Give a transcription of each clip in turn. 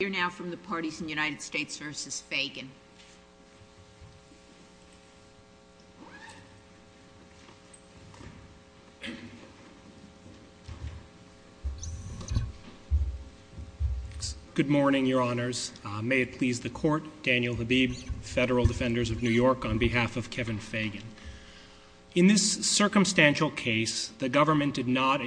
Good morning, Your Honors. May it please the Court, Daniel Habib, Federal Defenders of New York, on behalf of Kevin Fagan. In this circumstantial case, the government did not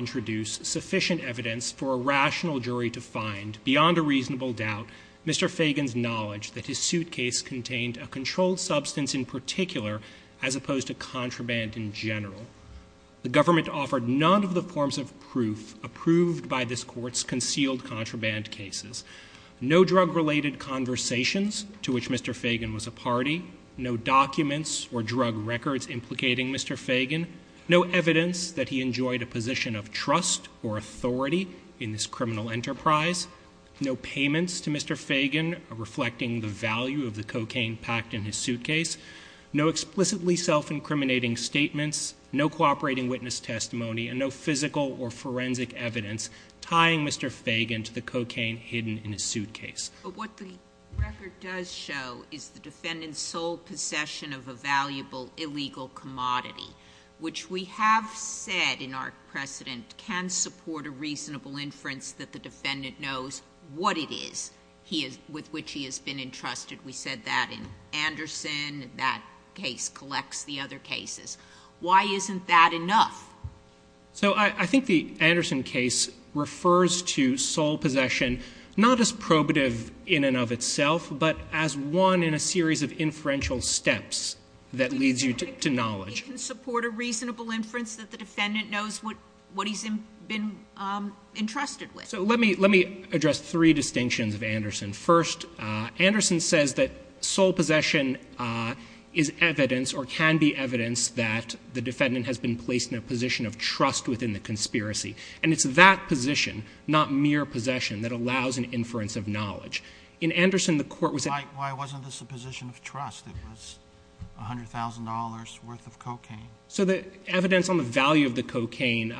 Mr. Fagan's knowledge that his suitcase contained a controlled substance in particular as opposed to contraband in general. The government offered none of the forms of proof approved by this Court's concealed contraband cases. No drug-related conversations to which Mr. Fagan was a party. No documents or drug records implicating Mr. Fagan. No evidence that he enjoyed a position of trust or authority in this criminal enterprise. No payments to Mr. Fagan reflecting the value of the cocaine packed in his suitcase. No explicitly self-incriminating statements, no cooperating witness testimony, and no physical or forensic evidence tying Mr. Fagan to the cocaine hidden in his suitcase. But what the record does show is the defendant's sole possession of a valuable illegal commodity, which we have said in our precedent can support a reasonable inference that the defendant knows what it is he is, with which he has been entrusted. We said that in Anderson. That case collects the other cases. Why isn't that enough? So I think the Anderson case refers to sole possession not as probative in and of itself, but as one in a series of inferential steps that leads you to knowledge. It can support a reasonable inference that the defendant knows what he's been entrusted with. So let me address three distinctions of Anderson. First, Anderson says that sole possession is evidence or can be evidence that the defendant has been placed in a position of trust within the conspiracy. And it's that position, not mere possession, that allows an inference of knowledge. In Anderson, the court was... Why wasn't this a position of trust? It was $100,000 worth of cocaine. So the evidence on the value of the cocaine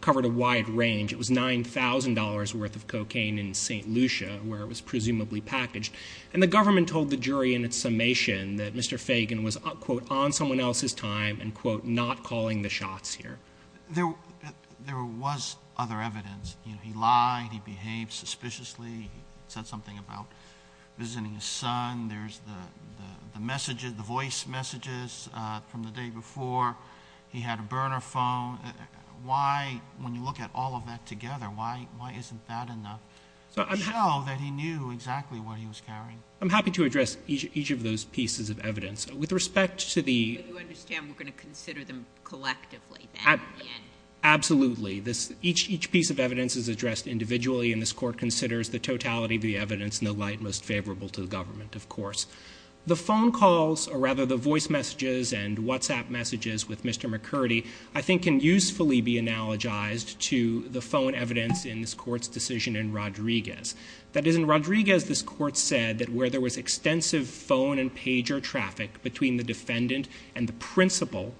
covered a wide range. It was $9,000 worth of cocaine in St. Lucia, where it was presumably packaged. And the government told the jury in its summation that Mr. Fagan was, quote, on someone else's time and, quote, not calling the shots here. There was other evidence. He lied. He behaved suspiciously. He said something about visiting his son. There's the voice messages from the day before. He had a burner phone. Why, when you look at all of that together, why isn't that enough to show that he knew exactly what he was carrying? I'm happy to address each of those pieces of evidence. With respect to the... Absolutely. Each piece of evidence is addressed individually, and this court considers the totality of the evidence in the light most favorable to the government, of course. The phone calls, or rather the voice messages and WhatsApp messages with Mr. McCurdy, I think can usefully be analogized to the phone evidence in this court's decision in Rodriguez. That is, in Rodriguez, this court said that where there was extensive phone and pager traffic between the defendant and the principal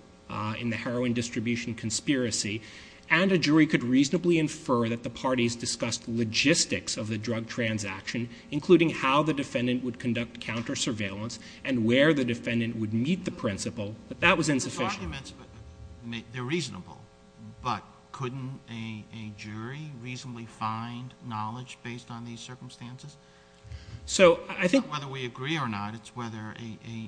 in the heroin distribution conspiracy, and a jury could reasonably infer that the parties discussed logistics of the drug transaction, including how the defendant would conduct counter-surveillance and where the defendant would meet the principal, that that was insufficient. The documents, they're reasonable, but couldn't a jury reasonably find knowledge based on these circumstances? So I think... It's not whether we agree or not, it's whether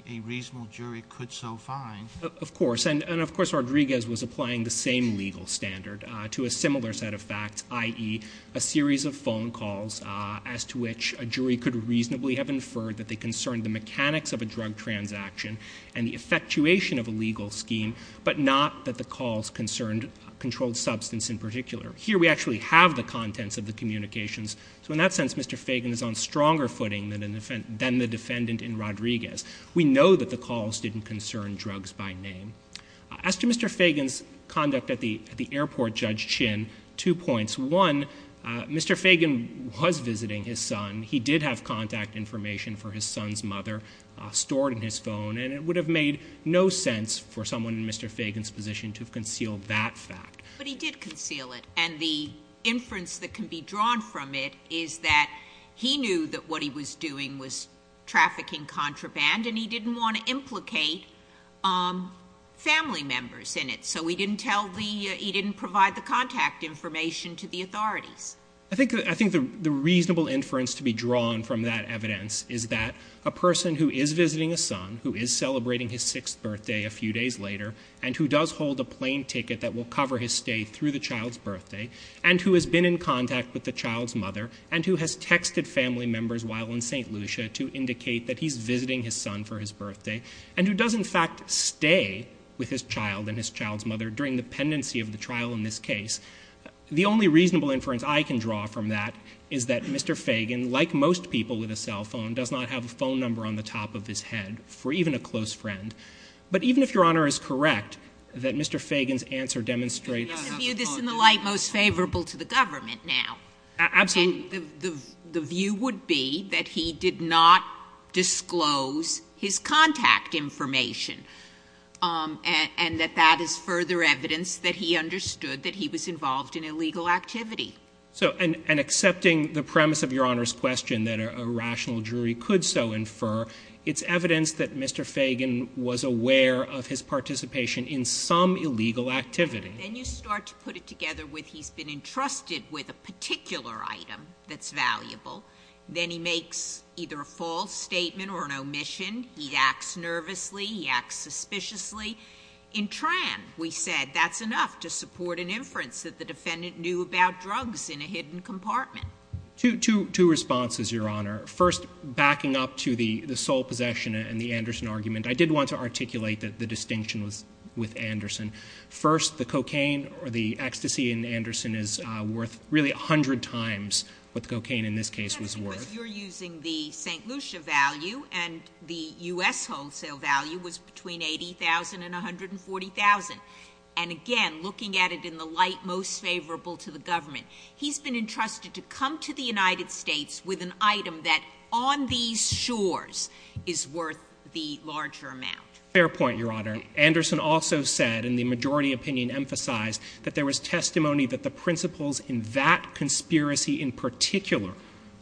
a reasonable jury could so find. Of course. And of course, Rodriguez was applying the same legal standard to a similar set of facts, i.e., a series of phone calls as to which a jury could reasonably have inferred that they concerned the mechanics of a drug transaction and the effectuation of a legal scheme, but not that the calls concerned controlled substance in particular. Here, we actually have the contents of the communications. So in that sense, Mr. Fagan is on stronger footing than the defendant in Rodriguez. We know that the calls didn't concern drugs by name. As to Mr. Fagan's conduct at the airport, Judge Chin, two points. One, Mr. Fagan was visiting his son. He did have contact information for his son's mother stored in his phone, and it would have made no sense for someone in Mr. Fagan's position to have concealed that fact. But he did conceal it. And the inference that can be drawn from it is that he knew that what he was doing was trafficking contraband, and he didn't want to implicate family members in it. So he didn't tell the — he didn't provide the contact information to the authorities. I think — I think the reasonable inference to be drawn from that evidence is that a person who is visiting a son, who is celebrating his sixth birthday a few days later, and who does hold a plane ticket that will cover his stay through the child's birthday, and who has been in contact with the child's mother, and who has texted family members while in St. Lucia to indicate that he's visiting his son for his birthday, and who does, in fact, stay with his child and his child's mother during the pendency of the trial in this case, the only reasonable inference I can draw from that is that Mr. Fagan, like most people with a cell phone, does not have a phone number on the top of his head for even a close friend. But even if Your Honor is correct that Mr. Fagan's answer demonstrates — I'm going to view this in the light most favorable to the government now. Absolutely. And the view would be that he did not disclose his contact information, and that that is further evidence that he understood that he was involved in illegal activity. So — and accepting the premise of Your Honor's question that a rational jury could so infer, it's evidence that Mr. Fagan was aware of his participation in some illegal activity. Then you start to put it together with he's been entrusted with a particular item that's valuable. Then he makes either a false statement or an omission. He acts nervously. He acts suspiciously. In Tran, we said that's enough to support an inference that the defendant knew about drugs in a hidden compartment. Two responses, Your Honor. First, backing up to the sole possession and the Anderson argument, I did want to articulate that the distinction was with Anderson. First, the cocaine or the ecstasy in Anderson is worth really 100 times what the cocaine in this case was worth. You're using the St. Lucia value, and the U.S. wholesale value was between $80,000 and $140,000. And again, looking at it in the light most favorable to the government, he's been entrusted to come to the United States with an item that on these shores is worth the larger amount. Fair point, Your Honor. Anderson also said, and the majority opinion emphasized, that there was testimony that the principles in that conspiracy in particular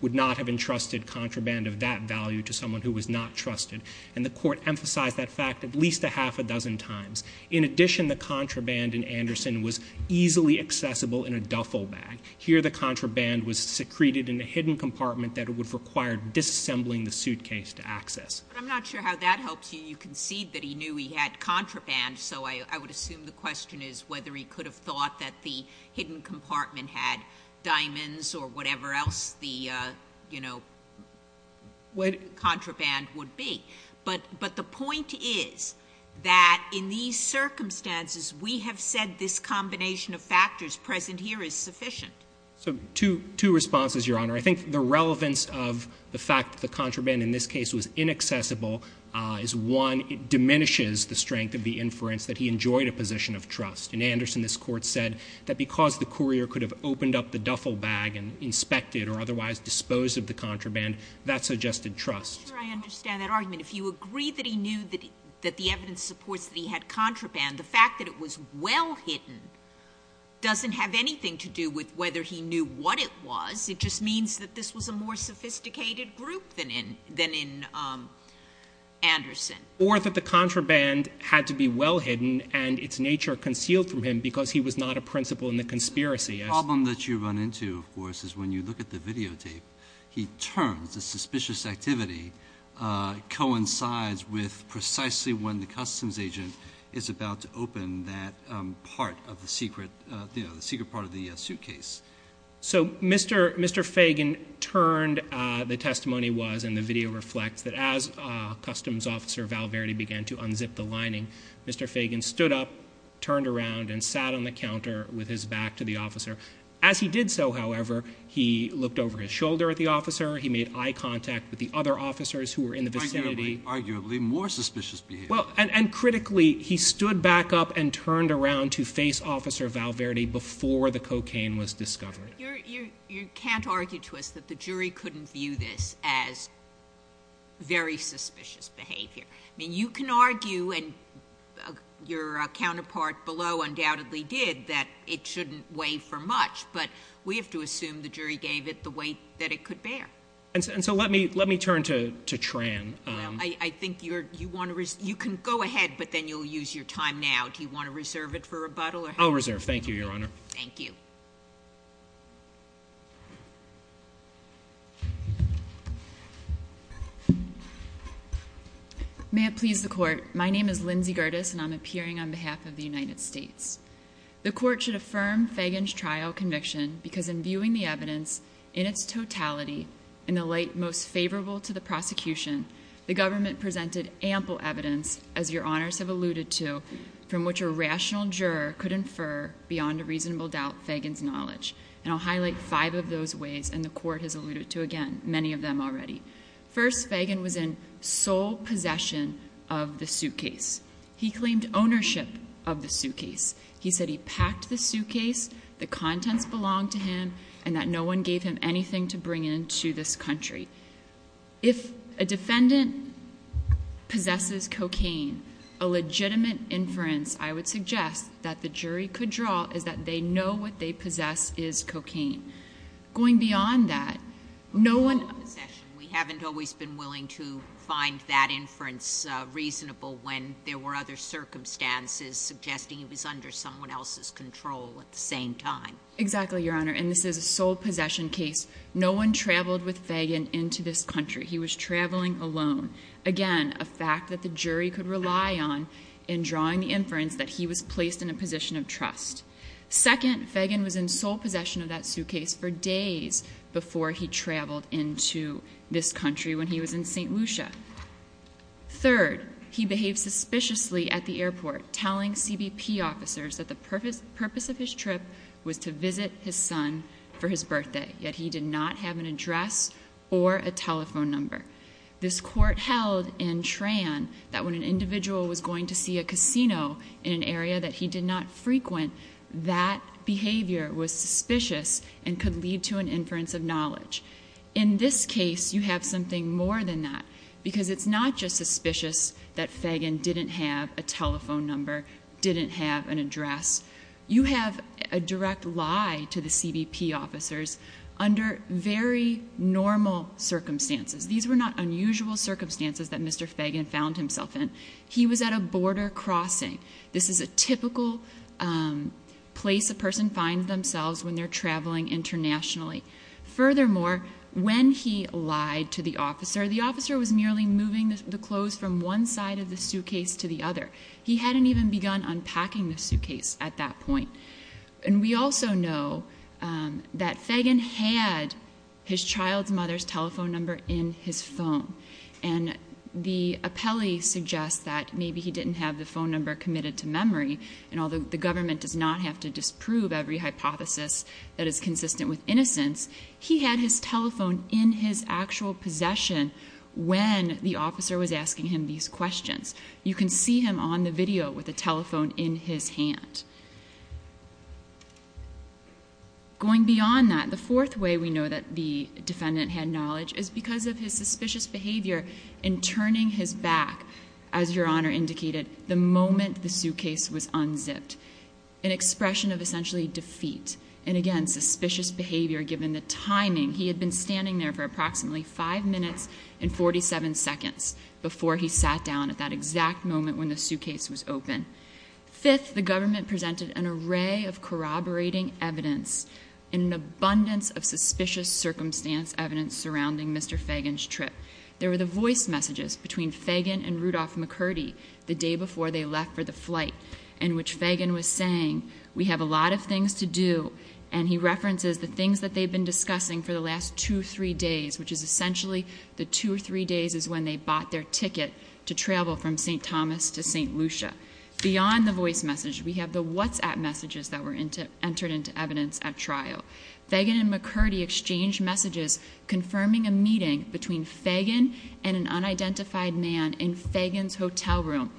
would not have entrusted contraband of that value to someone who was not trusted. And the court emphasized that fact at least a half a dozen times. In addition, the contraband in Anderson was easily accessible in a duffel bag. Here, the contraband was secreted in a hidden compartment that would require disassembling the suitcase to access. But I'm not sure how that helps you. You concede that he knew he had contraband, so I would assume the question is whether he could have thought that the hidden compartment had diamonds or whatever else the, you know, contraband would be. But the point is that in these circumstances, we have said this combination of factors present here is sufficient. So two responses, Your Honor. I think the relevance of the fact that the contraband in this case was inaccessible is, one, it diminishes the strength of the inference that he enjoyed a position of trust. In Anderson, this Court said that because the courier could have opened up the duffel bag and inspected or otherwise disposed of the contraband, that suggested trust. I'm not sure I understand that argument. If you agree that he knew that the evidence supports that he had contraband, the fact that it was well hidden doesn't have anything to do with whether he knew what it was. It just means that this was a more sophisticated group than in Anderson. Or that the contraband had to be well hidden and its nature concealed from him because he was not a principal in the conspiracy. The problem that you run into, of course, is when you look at the videotape, he turns, the suspicious activity coincides with precisely when the customs agent is about to open that part of the secret, you know, the secret part of the suitcase. So Mr. Fagan turned. The testimony was, and the video reflects, that as customs officer Val Verde began to unzip the lining, Mr. Fagan stood up, turned around, and sat on the counter with his back to the officer. As he did so, however, he looked over his shoulder at the officer. He made eye contact with the other officers who were in the vicinity. Arguably, more suspicious behavior. And critically, he stood back up and turned around to face Officer Val Verde before the cocaine was discovered. You can't argue to us that the jury couldn't view this as very suspicious behavior. I mean, you can argue, and your counterpart below undoubtedly did, that it shouldn't weigh for much, but we have to assume the jury gave it the weight that it could bear. And so let me turn to Tran. I think you can go ahead, but then you'll use your time now. Do you want to reserve it for rebuttal? I'll reserve. Thank you, Your Honor. Thank you. May it please the Court. My name is Lindsay Gerdes, and I'm appearing on behalf of the United States. The Court should affirm Fagan's trial conviction because in viewing the evidence in its totality, in the light most favorable to the prosecution, the government presented ample evidence, as your Honors have alluded to, from which a rational juror could infer beyond a reasonable doubt Fagan's knowledge. And I'll highlight five of those ways, and the Court has alluded to, again, many of them already. First, Fagan was in sole possession of the suitcase. He claimed ownership of the suitcase. He said he packed the suitcase, the contents belonged to him, and that no one gave him anything to bring into this country. If a defendant possesses cocaine, a legitimate inference I would suggest that the jury could draw is that they know what they possess is cocaine. Going beyond that, no one- We haven't always been willing to find that inference reasonable when there were other circumstances suggesting it was under someone else's control at the same time. Exactly, your Honor. And this is a sole possession case. No one traveled with Fagan into this country. He was traveling alone. Again, a fact that the jury could rely on in drawing the inference that he was placed in a position of trust. Second, Fagan was in sole possession of that suitcase for days before he traveled into this country when he was in St. Lucia. Third, he behaved suspiciously at the airport, telling CBP officers that the purpose of his trip was to visit his son for his birthday, yet he did not have an address or a telephone number. This Court held in Tran that when an individual was going to see a casino in an area that he did not frequent, that behavior was suspicious and could lead to an inference of knowledge. In this case, you have something more than that because it's not just suspicious that Fagan didn't have a telephone number, didn't have an address. You have a direct lie to the CBP officers under very normal circumstances. These were not unusual circumstances that Mr. Fagan found himself in. He was at a border crossing. This is a typical place a person finds themselves when they're traveling internationally. Furthermore, when he lied to the officer, the officer was merely moving the clothes from one side of the suitcase to the other. He hadn't even begun unpacking the suitcase at that point. And we also know that Fagan had his child's mother's telephone number in his phone. And the appellee suggests that maybe he didn't have the phone number committed to memory. And although the government does not have to disprove every hypothesis that is consistent with innocence, he had his telephone in his actual possession when the officer was asking him these questions. You can see him on the video with a telephone in his hand. Going beyond that, the fourth way we know that the defendant had knowledge is because of his suspicious behavior in turning his back, as Your Honor indicated, the moment the suitcase was unzipped. An expression of essentially defeat. And again, suspicious behavior given the timing. He had been standing there for approximately 5 minutes and 47 seconds before he sat down at that exact moment when the suitcase was open. Fifth, the government presented an array of corroborating evidence in an abundance of Fagan's trip. There were the voice messages between Fagan and Rudolph McCurdy the day before they left for the flight, in which Fagan was saying, we have a lot of things to do. And he references the things that they've been discussing for the last two or three days, which is essentially the two or three days is when they bought their ticket to travel from St. Thomas to St. Lucia. Beyond the voice message, we have the WhatsApp messages that were entered into evidence at trial. Fagan and McCurdy exchanged messages confirming a meeting between Fagan and an unidentified man in Fagan's hotel room.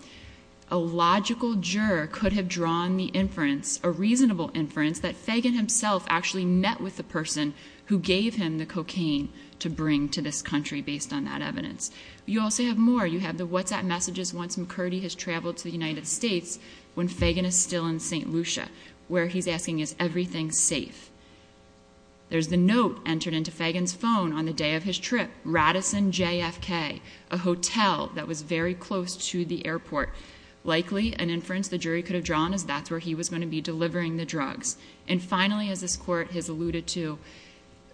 A logical juror could have drawn the inference, a reasonable inference, that Fagan himself actually met with the person who gave him the cocaine to bring to this country based on that evidence. You also have more. You have the WhatsApp messages once McCurdy has traveled to the United States when Fagan is still in St. Lucia, where he's asking, is everything safe? There's the note entered into Fagan's phone on the day of his trip, Radisson JFK, a hotel that was very close to the airport. Likely an inference the jury could have drawn is that's where he was going to be delivering the drugs. And finally, as this court has alluded to,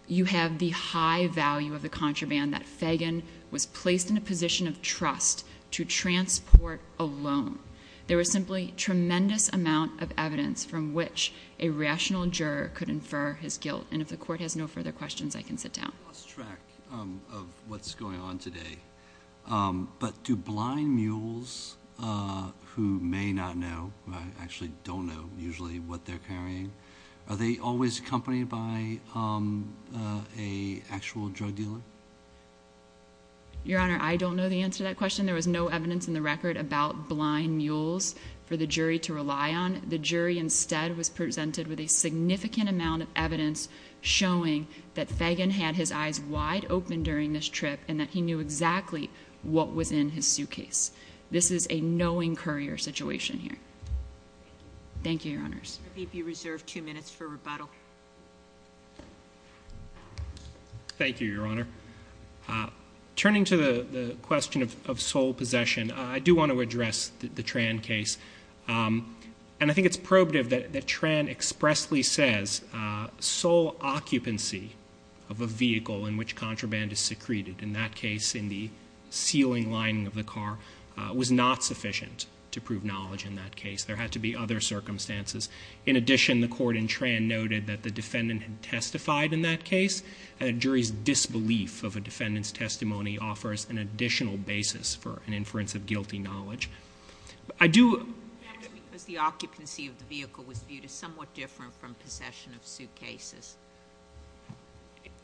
you have the high value of the contraband that Fagan was placed in a position of trust to transport alone. There was simply tremendous amount of evidence from which a rational juror could infer his guilt. And if the court has no further questions, I can sit down. I lost track of what's going on today. But do blind mules, who may not know, who actually don't know usually what they're carrying, are they always accompanied by an actual drug dealer? Your Honor, I don't know the answer to that question. There was no evidence in the record about blind mules for the jury to rely on. The jury instead was presented with a significant amount of evidence showing that Fagan had his eyes wide open during this trip and that he knew exactly what was in his suitcase. This is a knowing courier situation here. Thank you, Your Honors. I believe you reserve two minutes for rebuttal. Thank you, Your Honor. Turning to the question of sole possession, I do want to address the Tran case. And I think it's probative that Tran expressly says sole occupancy of a vehicle in which contraband is secreted, in that case in the ceiling lining of the car, was not sufficient to prove knowledge in that case. There had to be other circumstances. In addition, the court in Tran noted that the defendant had testified in that case, and a jury's disbelief of a defendant's testimony offers an additional basis for an inference of guilty knowledge. I do... That's because the occupancy of the vehicle was viewed as somewhat different from possession of suitcases.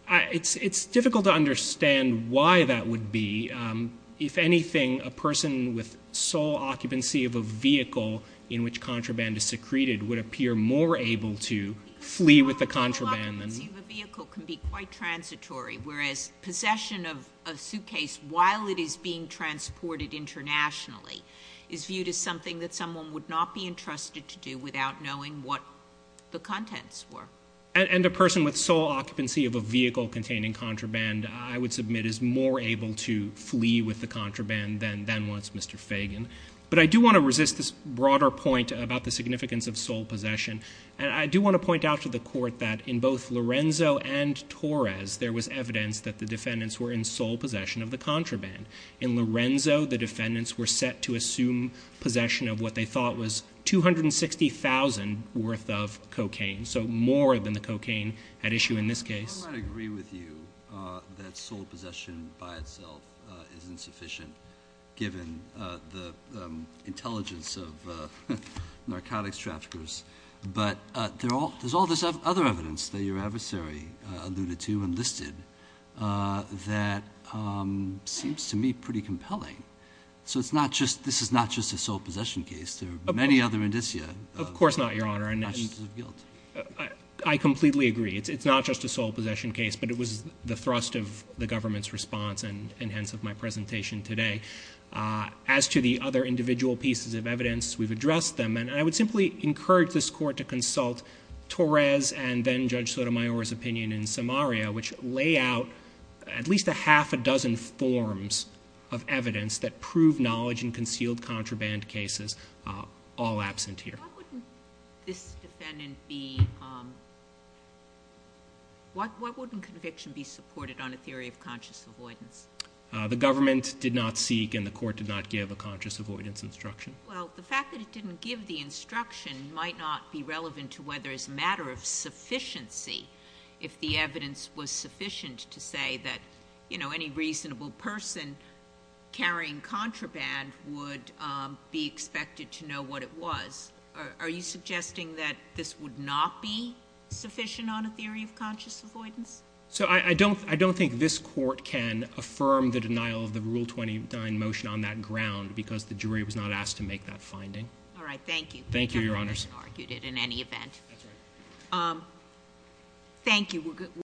It's difficult to understand why that would be. If anything, a person with sole occupancy of a vehicle in which contraband is secreted would appear more able to flee with the contraband than... Sole occupancy of a vehicle can be quite transitory, whereas possession of a suitcase while it is being transported internationally is viewed as something that someone would not be entrusted to do without knowing what the contents were. And a person with sole occupancy of a vehicle containing contraband, I would submit, is more able to flee with the contraband than was Mr. Fagan. But I do want to resist this broader point about the significance of sole possession. And I do want to point out to the court that in both Lorenzo and Torres, there was evidence that the defendants were in sole possession of the contraband. In Lorenzo, the defendants were set to assume possession of what they thought was 260,000 worth of cocaine. So more than the cocaine at issue in this case. I might agree with you that sole possession by itself is insufficient, given the intelligence of narcotics traffickers. But there's all this other evidence that your adversary alluded to and listed that seems to me pretty compelling. So this is not just a sole possession case. There are many other indicia. Of course not, Your Honor. I completely agree. It's not just a sole possession case, but it was the thrust of the government's response and hence of my presentation today. As to the other individual pieces of evidence, we've addressed them. And I would simply encourage this court to consult Torres and then Judge Sotomayor's opinion in Samaria, which lay out at least a half a dozen forms of evidence that prove knowledge in concealed contraband cases, all absent here. What wouldn't this defendant be... What wouldn't conviction be supported on a theory of conscious avoidance? The government did not seek and the court did not give a conscious avoidance instruction. Well, the fact that it didn't give the instruction might not be relevant to whether it's a matter of sufficiency if the evidence was sufficient to say that, you know, any reasonable person carrying contraband would be expected to know what it was. Are you suggesting that this would not be sufficient on a theory of conscious avoidance? So I don't think this court can affirm the denial of the Rule 29 motion on that ground because the jury was not asked to make that finding. All right. Thank you. Thank you, Your Honors. I haven't argued it in any event. Thank you.